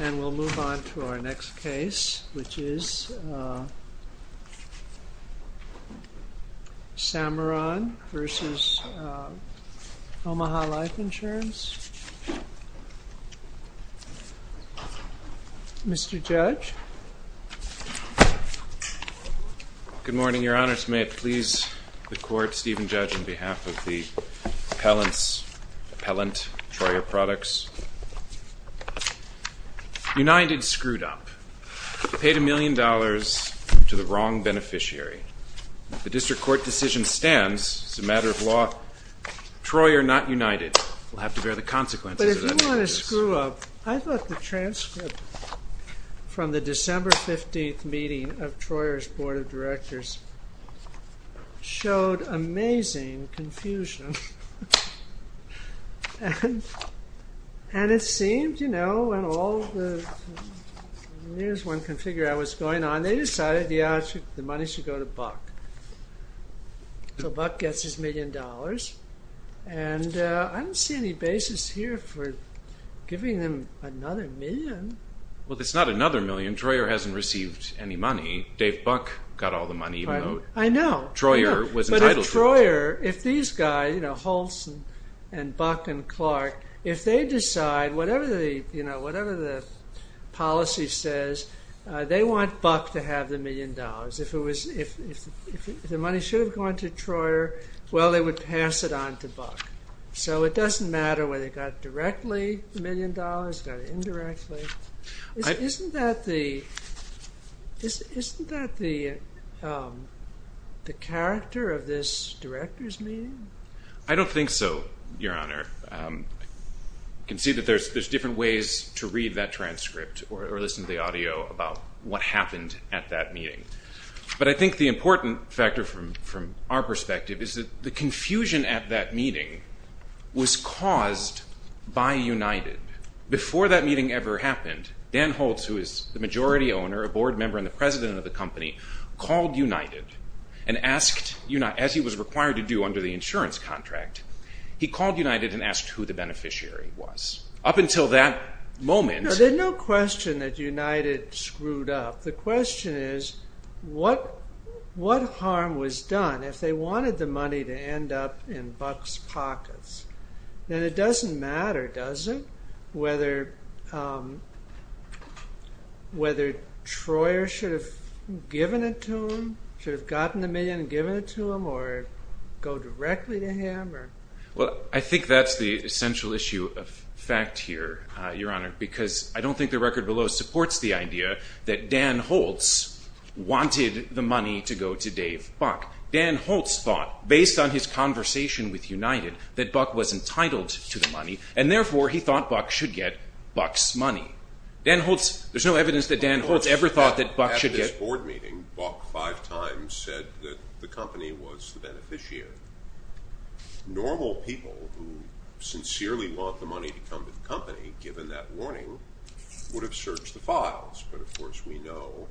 And we'll move on to our next case, which is Samaron v. Omaha Life Insurance. Mr. Judge? Good morning, Your Honor. May it please the Court, Stephen Judge, on behalf of the appellant, Troyer Products. United screwed up. Paid a million dollars to the wrong beneficiary. The District Court decision stands. It's a matter of law. Troyer, not United, will have to bear the consequences of that injustice. I thought the transcript from the December 15th meeting of Troyer's Board of Directors showed amazing confusion. And it seemed, you know, when all the news one could figure out was going on, they decided the money should go to Buck. So Buck gets his million dollars. And I don't see any basis here for giving them another million. Well, it's not another million. Troyer hasn't received any money. Dave Buck got all the money, even though Troyer was entitled to it. I know. But if Troyer, if these guys, you know, Holson and Buck and Clark, if they decide, whatever the, you know, whatever the policy says, they want Buck to have the million dollars. If the money should have gone to Troyer, well, they would pass it on to Buck. So it doesn't matter whether it got directly a million dollars, got it indirectly. Isn't that the character of this directors' meeting? I don't think so, Your Honor. You can see that there's different ways to read that transcript or listen to the audio about what happened at that meeting. But I think the important factor from our perspective is that the confusion at that meeting was caused by United. Before that meeting ever happened, Dan Holtz, who is the majority owner, a board member and the president of the company, called United and asked, as he was required to do under the insurance contract, he called United and asked who the beneficiary was. Up until that moment... There's no question that United screwed up. The question is, what harm was done if they wanted the money to end up in Buck's pockets? And it doesn't matter, does it, whether Troyer should have given it to him, should have gotten the million and given it to him or go directly to him? Well, I think that's the essential issue of fact here, Your Honor, because I don't think the record below supports the idea that Dan Holtz wanted the money to go to Dave Buck. Dan Holtz thought, based on his conversation with United, that Buck was entitled to the money, and therefore he thought Buck should get Buck's money. There's no evidence that Dan Holtz ever thought that Buck should get... At this board meeting, Buck five times said that the company was the beneficiary. Normal people who sincerely want the money to come to the company, given that warning, would have searched the files. But, of course, we know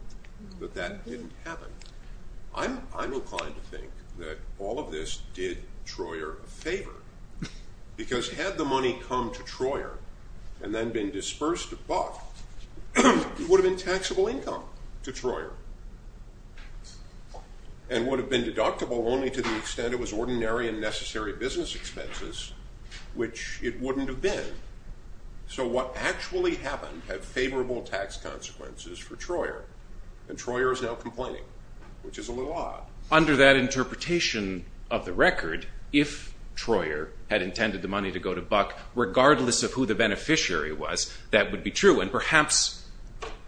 that that didn't happen. I'm inclined to think that all of this did Troyer a favor, because had the money come to Troyer and then been dispersed to Buck, it would have been taxable income to Troyer. And would have been deductible only to the extent it was ordinary and necessary business expenses, which it wouldn't have been. So what actually happened had favorable tax consequences for Troyer, and Troyer is now complaining, which is a little odd. Under that interpretation of the record, if Troyer had intended the money to go to Buck, regardless of who the beneficiary was, that would be true. And perhaps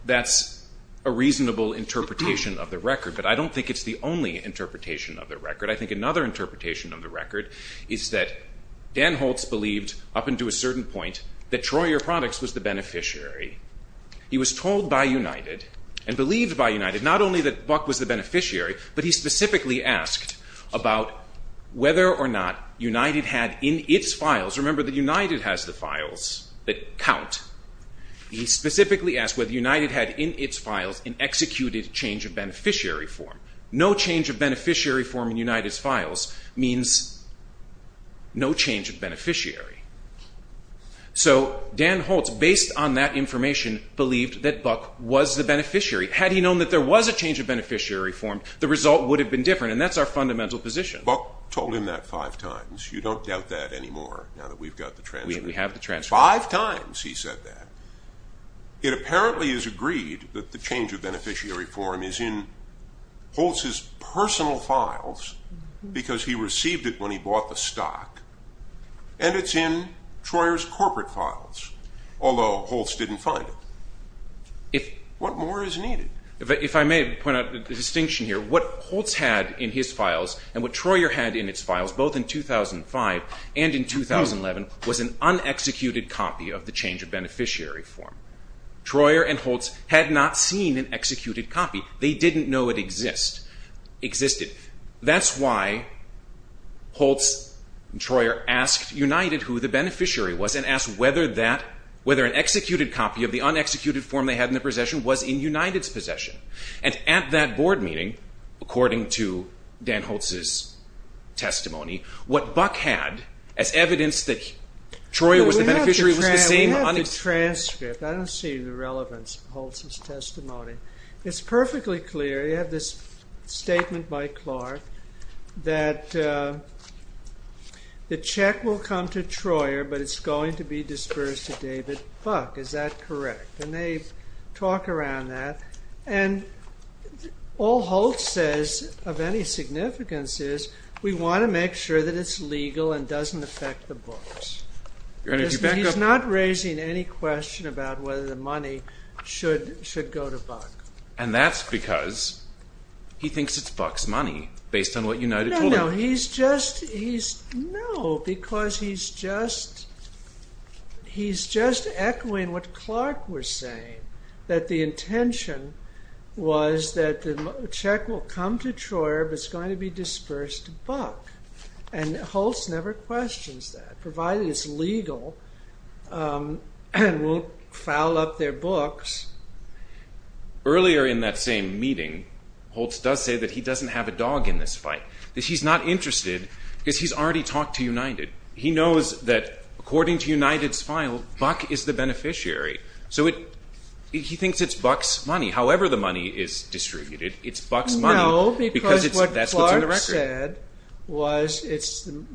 that's a reasonable interpretation of the record, but I don't think it's the only interpretation of the record. I think another interpretation of the record is that Dan Holtz believed, up until a certain point, that Troyer Products was the beneficiary. He was told by United, and believed by United, not only that Buck was the beneficiary, but he specifically asked about whether or not United had in its files... Remember that United has the files that count. He specifically asked whether United had in its files an executed change of beneficiary form. No change of beneficiary form in United's files means no change of beneficiary. So Dan Holtz, based on that information, believed that Buck was the beneficiary. Had he known that there was a change of beneficiary form, the result would have been different, and that's our fundamental position. Buck told him that five times. You don't doubt that anymore, now that we've got the transcript. We have the transcript. Five times he said that. It apparently is agreed that the change of beneficiary form is in Holtz's personal files, because he received it when he bought the stock, and it's in Troyer's corporate files, although Holtz didn't find it. What more is needed? If I may point out a distinction here, what Holtz had in his files and what Troyer had in its files, both in 2005 and in 2011, was an unexecuted copy of the change of beneficiary form. Troyer and Holtz had not seen an executed copy. They didn't know it existed. That's why Holtz and Troyer asked United who the beneficiary was and asked whether an executed copy of the unexecuted form they had in their possession was in United's possession, and at that board meeting, according to Dan Holtz's testimony, what Buck had as evidence that Troyer was the beneficiary was the same... We have the transcript. I don't see the relevance of Holtz's testimony. It's perfectly clear. You have this statement by Clark that the check will come to Troyer, but it's going to be disbursed to David Buck. Is that correct? And they talk around that. And all Holtz says of any significance is we want to make sure that it's legal and doesn't affect the books. He's not raising any question about whether the money should go to Buck. And that's because he thinks it's Buck's money based on what United told him. No, because he's just echoing what Clark was saying, that the intention was that the check will come to Troyer, but it's going to be disbursed to Buck. And Holtz never questions that, provided it's legal and won't foul up their books. Earlier in that same meeting, Holtz does say that he doesn't have a dog in this fight. That he's not interested because he's already talked to United. He knows that, according to United's file, Buck is the beneficiary. So he thinks it's Buck's money. However the money is distributed, it's Buck's money because that's what's in the record. No, because what Clark said was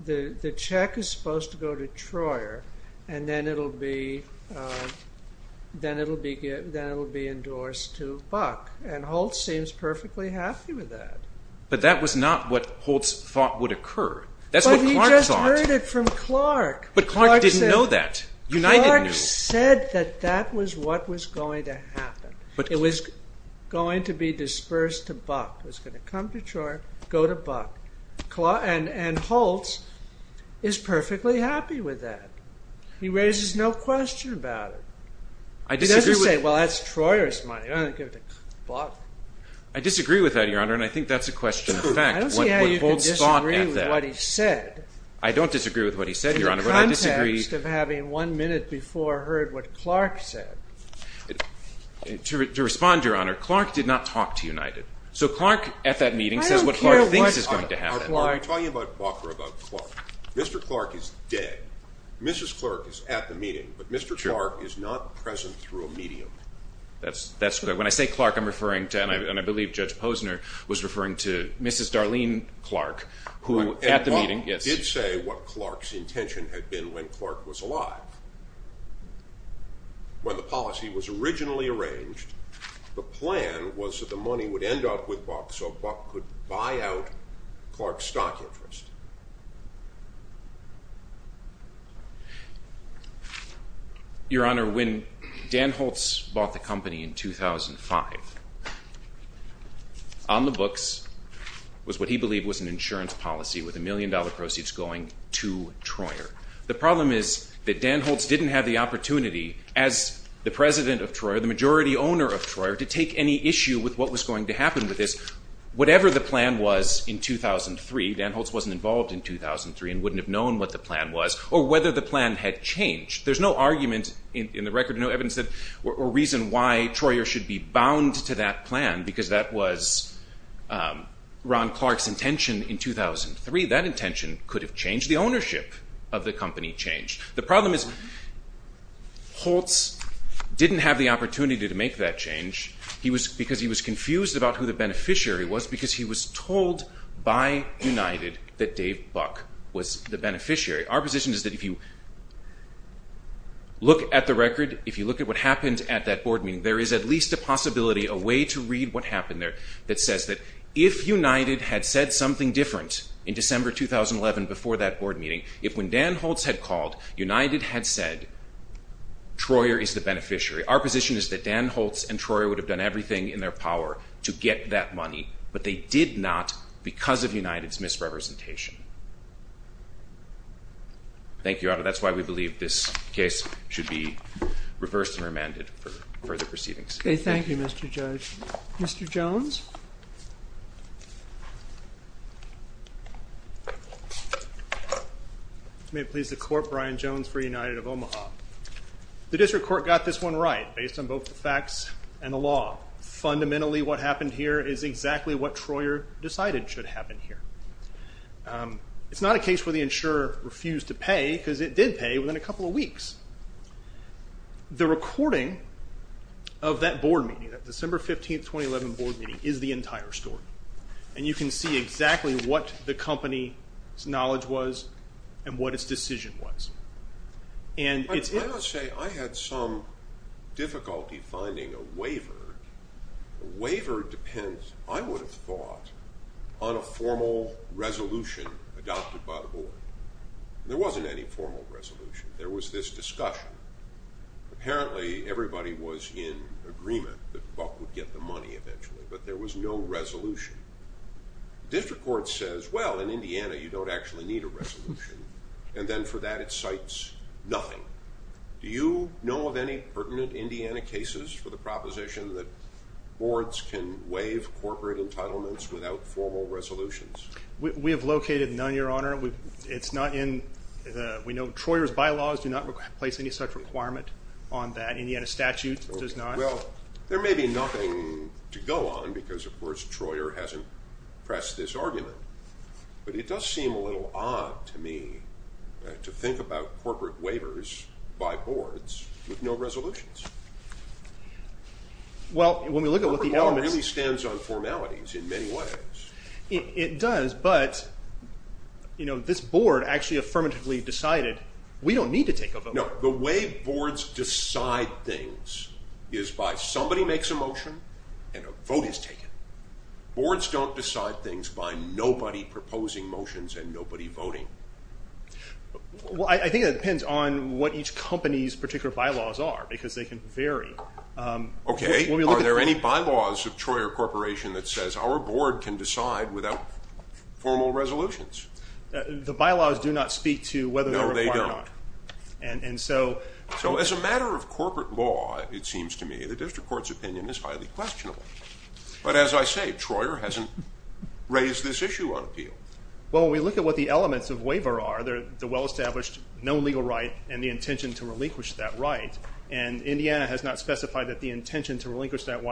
the check is supposed to go to Troyer, and then it'll be endorsed to Buck. And Holtz seems perfectly happy with that. But that was not what Holtz thought would occur. That's what Clark thought. But he just heard it from Clark. But Clark didn't know that. Clark said that that was what was going to happen. It was going to be disbursed to Buck. It was going to come to Troyer, go to Buck. And Holtz is perfectly happy with that. He raises no question about it. He doesn't say, well, that's Troyer's money, I'm not going to give it to Buck. I disagree with that, Your Honor, and I think that's a question of fact. I don't see how you can disagree with what he said. I don't disagree with what he said, Your Honor. In the context of having one minute before heard what Clark said. To respond, Your Honor, Clark did not talk to United. So Clark at that meeting says what Clark thinks is going to happen. I don't care what Clark. I'll tell you about Buck or about Clark. Mr. Clark is dead. Mrs. Clark is at the meeting. But Mr. Clark is not present through a medium. That's good. When I say Clark, I'm referring to, and I believe Judge Posner was referring to, Mrs. Darlene Clark, who at the meeting. Buck did say what Clark's intention had been when Clark was alive. When the policy was originally arranged, the plan was that the money would end up with Buck so Buck could buy out Clark's stock interest. Your Honor, when Dan Holtz bought the company in 2005, on the books was what he believed was an insurance policy with a million dollar proceeds going to Troyer. The problem is that Dan Holtz didn't have the opportunity as the president of Troyer, the majority owner of Troyer, to take any issue with what was going to happen with this. Whatever the plan was in 2003, Dan Holtz wasn't involved. He wasn't involved in 2003 and wouldn't have known what the plan was or whether the plan had changed. There's no argument in the record, no evidence or reason why Troyer should be bound to that plan because that was Ron Clark's intention in 2003. That intention could have changed. The ownership of the company changed. The problem is Holtz didn't have the opportunity to make that change because he was confused about who the beneficiary was because he was told by United that Dave Buck was the beneficiary. Our position is that if you look at the record, if you look at what happened at that board meeting, there is at least a possibility, a way to read what happened there, that says that if United had said something different in December 2011 before that board meeting, if when Dan Holtz had called, United had said Troyer is the beneficiary, our position is that Dan Holtz and Troyer would have done everything in their power to get that money, but they did not because of United's misrepresentation. Thank you, Your Honor. That's why we believe this case should be reversed and remanded for further proceedings. Thank you, Mr. Judge. Mr. Jones? May it please the Court, Brian Jones for United of Omaha. The district court got this one right based on both the facts and the law. Fundamentally, what happened here is exactly what Troyer decided should happen here. It's not a case where the insurer refused to pay because it did pay within a couple of weeks. The recording of that board meeting, that December 15, 2011 board meeting, is the entire story, and you can see exactly what the company's knowledge was and what its decision was. Why not say I had some difficulty finding a waiver? A waiver depends, I would have thought, on a formal resolution adopted by the board. There wasn't any formal resolution. There was this discussion. Apparently, everybody was in agreement that Buck would get the money eventually, but there was no resolution. The district court says, well, in Indiana, you don't actually need a resolution, and then for that it cites nothing. Do you know of any pertinent Indiana cases for the proposition that boards can waive corporate entitlements without formal resolutions? We have located none, Your Honor. We know Troyer's bylaws do not place any such requirement on that. Indiana statute does not. Well, there may be nothing to go on because, of course, Troyer hasn't pressed this argument, but it does seem a little odd to me to think about corporate waivers by boards with no resolutions. Corporate law really stands on formalities in many ways. It does, but this board actually affirmatively decided we don't need to take a vote. No, the way boards decide things is by somebody makes a motion and a vote is taken. Boards don't decide things by nobody proposing motions and nobody voting. Well, I think it depends on what each company's particular bylaws are because they can vary. Okay. Are there any bylaws of Troyer Corporation that says our board can decide without formal resolutions? The bylaws do not speak to whether they're required. No, they don't. So as a matter of corporate law, it seems to me, the district court's opinion is highly questionable. But as I say, Troyer hasn't raised this issue on appeal. Well, when we look at what the elements of waiver are, the well-established no legal right and the intention to relinquish that right, and Indiana has not specified that the intention to relinquish that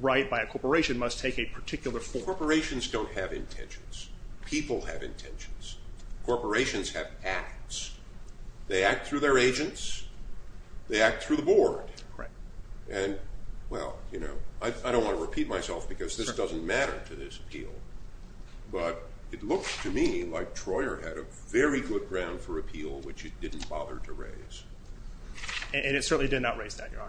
right by a corporation must take a particular form. Corporations don't have intentions. People have intentions. Corporations have acts. They act through their agents. They act through the board. Right. And, well, you know, I don't want to repeat myself because this doesn't matter to this appeal, but it looks to me like Troyer had a very good ground for appeal, which it didn't bother to raise. And it certainly did not raise that, Your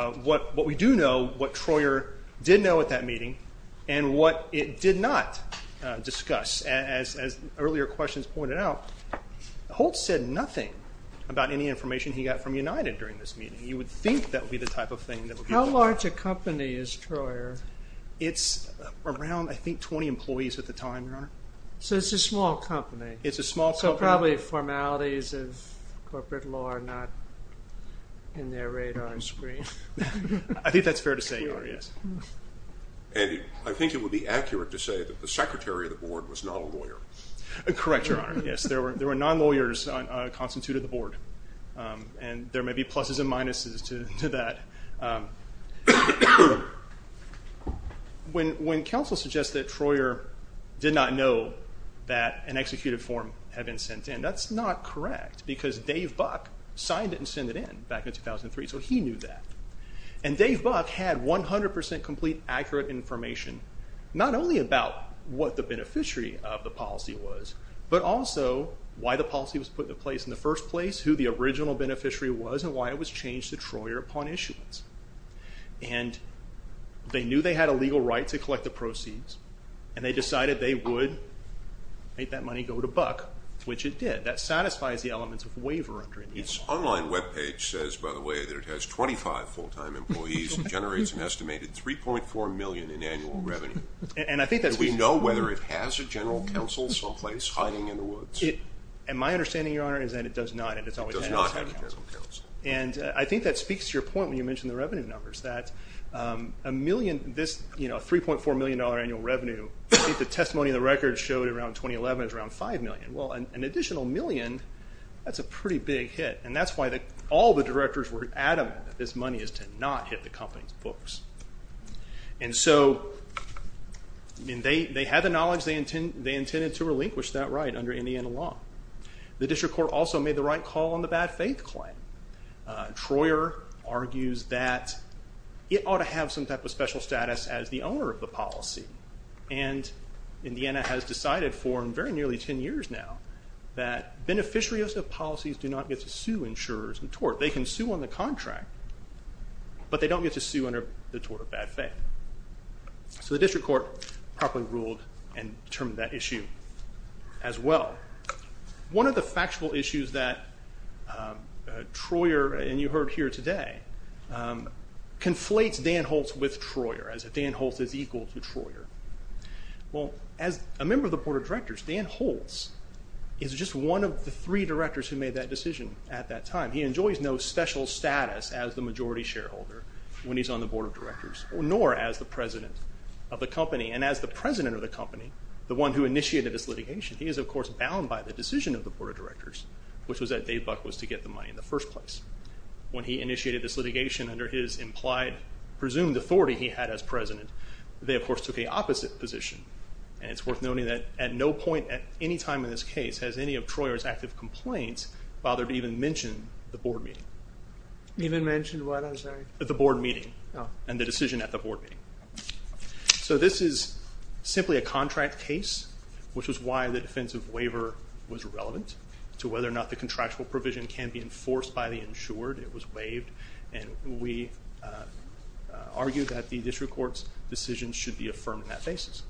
Honor. What we do know, what Troyer did know at that meeting, and what it did not discuss, as earlier questions pointed out, Holtz said nothing about any information he got from United during this meeting. You would think that would be the type of thing. How large a company is Troyer? It's around, I think, 20 employees at the time, Your Honor. So it's a small company. It's a small company. So probably formalities of corporate law are not in their radar screen. I think that's fair to say, Your Honor, yes. And I think it would be accurate to say that the secretary of the board was not a lawyer. Correct, Your Honor, yes. There were non-lawyers constitute of the board, and there may be pluses and minuses to that. When counsel suggests that Troyer did not know that an executed form had been sent in, that's not correct because Dave Buck signed it and sent it in back in 2003, so he knew that. And Dave Buck had 100% complete, accurate information, not only about what the beneficiary of the policy was, but also why the policy was put in place in the first place, who the original beneficiary was, and why it was changed to Troyer upon issuance. And they knew they had a legal right to collect the proceeds, and they decided they would make that money go to Buck, which it did. That satisfies the elements of waiver under it. Its online webpage says, by the way, that it has 25 full-time employees and generates an estimated $3.4 million in annual revenue. Do we know whether it has a general counsel someplace hiding in the woods? My understanding, Your Honor, is that it does not. It does not have a general counsel. And I think that speaks to your point when you mentioned the revenue numbers, that this $3.4 million annual revenue, I think the testimony in the record showed around 2011, it was around $5 million. Well, an additional million, that's a pretty big hit, and that's why all the directors were adamant that this money is to not hit the company's books. And so they had the knowledge they intended to relinquish that right under Indiana law. The district court also made the right call on the bad faith claim. Troyer argues that it ought to have some type of special status as the owner of the policy. And Indiana has decided for very nearly 10 years now that beneficiaries of policies do not get to sue insurers in tort. They can sue on the contract, but they don't get to sue under the tort of bad faith. So the district court properly ruled and determined that issue as well. One of the factual issues that Troyer, and you heard here today, conflates Dan Holtz with Troyer, as if Dan Holtz is equal to Troyer. Well, as a member of the board of directors, Dan Holtz is just one of the three directors who made that decision at that time. He enjoys no special status as the majority shareholder when he's on the board of directors, nor as the president of the company. And as the president of the company, the one who initiated this litigation, he is, of course, bound by the decision of the board of directors, which was that Dave Buck was to get the money in the first place. When he initiated this litigation under his implied, presumed authority he had as president, they, of course, took a opposite position. And it's worth noting that at no point at any time in this case has any of Troyer's active complaints bothered to even mention the board meeting. Even mention what, I'm sorry? The board meeting and the decision at the board meeting. So this is simply a contract case, which is why the defensive waiver was relevant to whether or not the contractual provision can be enforced by the insured. It was waived, and we argue that the district court's decision should be affirmed on that basis.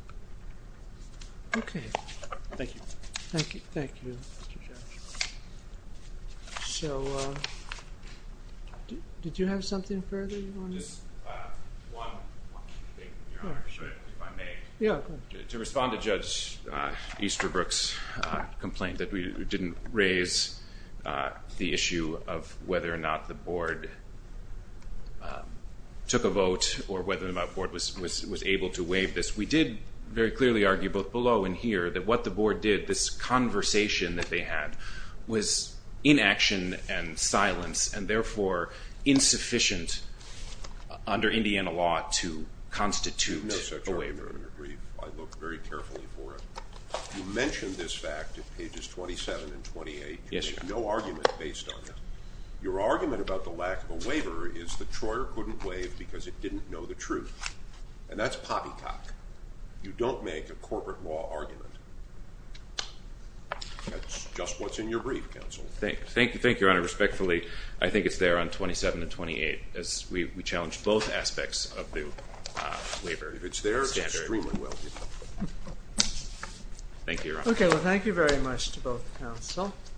Okay. Thank you. Thank you. Thank you, Mr. Chairman. So did you have something further you wanted to say? Just one thing, if I may. Yeah, go ahead. To respond to Judge Easterbrook's complaint that we didn't raise the issue of whether or not the board took a vote or whether or not the board was able to waive this, we did very clearly argue both below and here that what the board did, this conversation that they had, was inaction and silence and therefore insufficient under Indiana law to constitute a waiver. No, sir. I agree. I looked very carefully for it. You mentioned this fact at pages 27 and 28. Yes, sir. There's no argument based on that. Your argument about the lack of a waiver is that Troyer couldn't waive because it didn't know the truth. And that's poppycock. You don't make a corporate law argument. That's just what's in your brief, counsel. Thank you, Your Honor. Respectfully, I think it's there on 27 and 28 as we challenged both aspects of the waiver standard. If it's there, it's extremely well done. Thank you, Your Honor. Okay. Well, thank you very much to both counsel.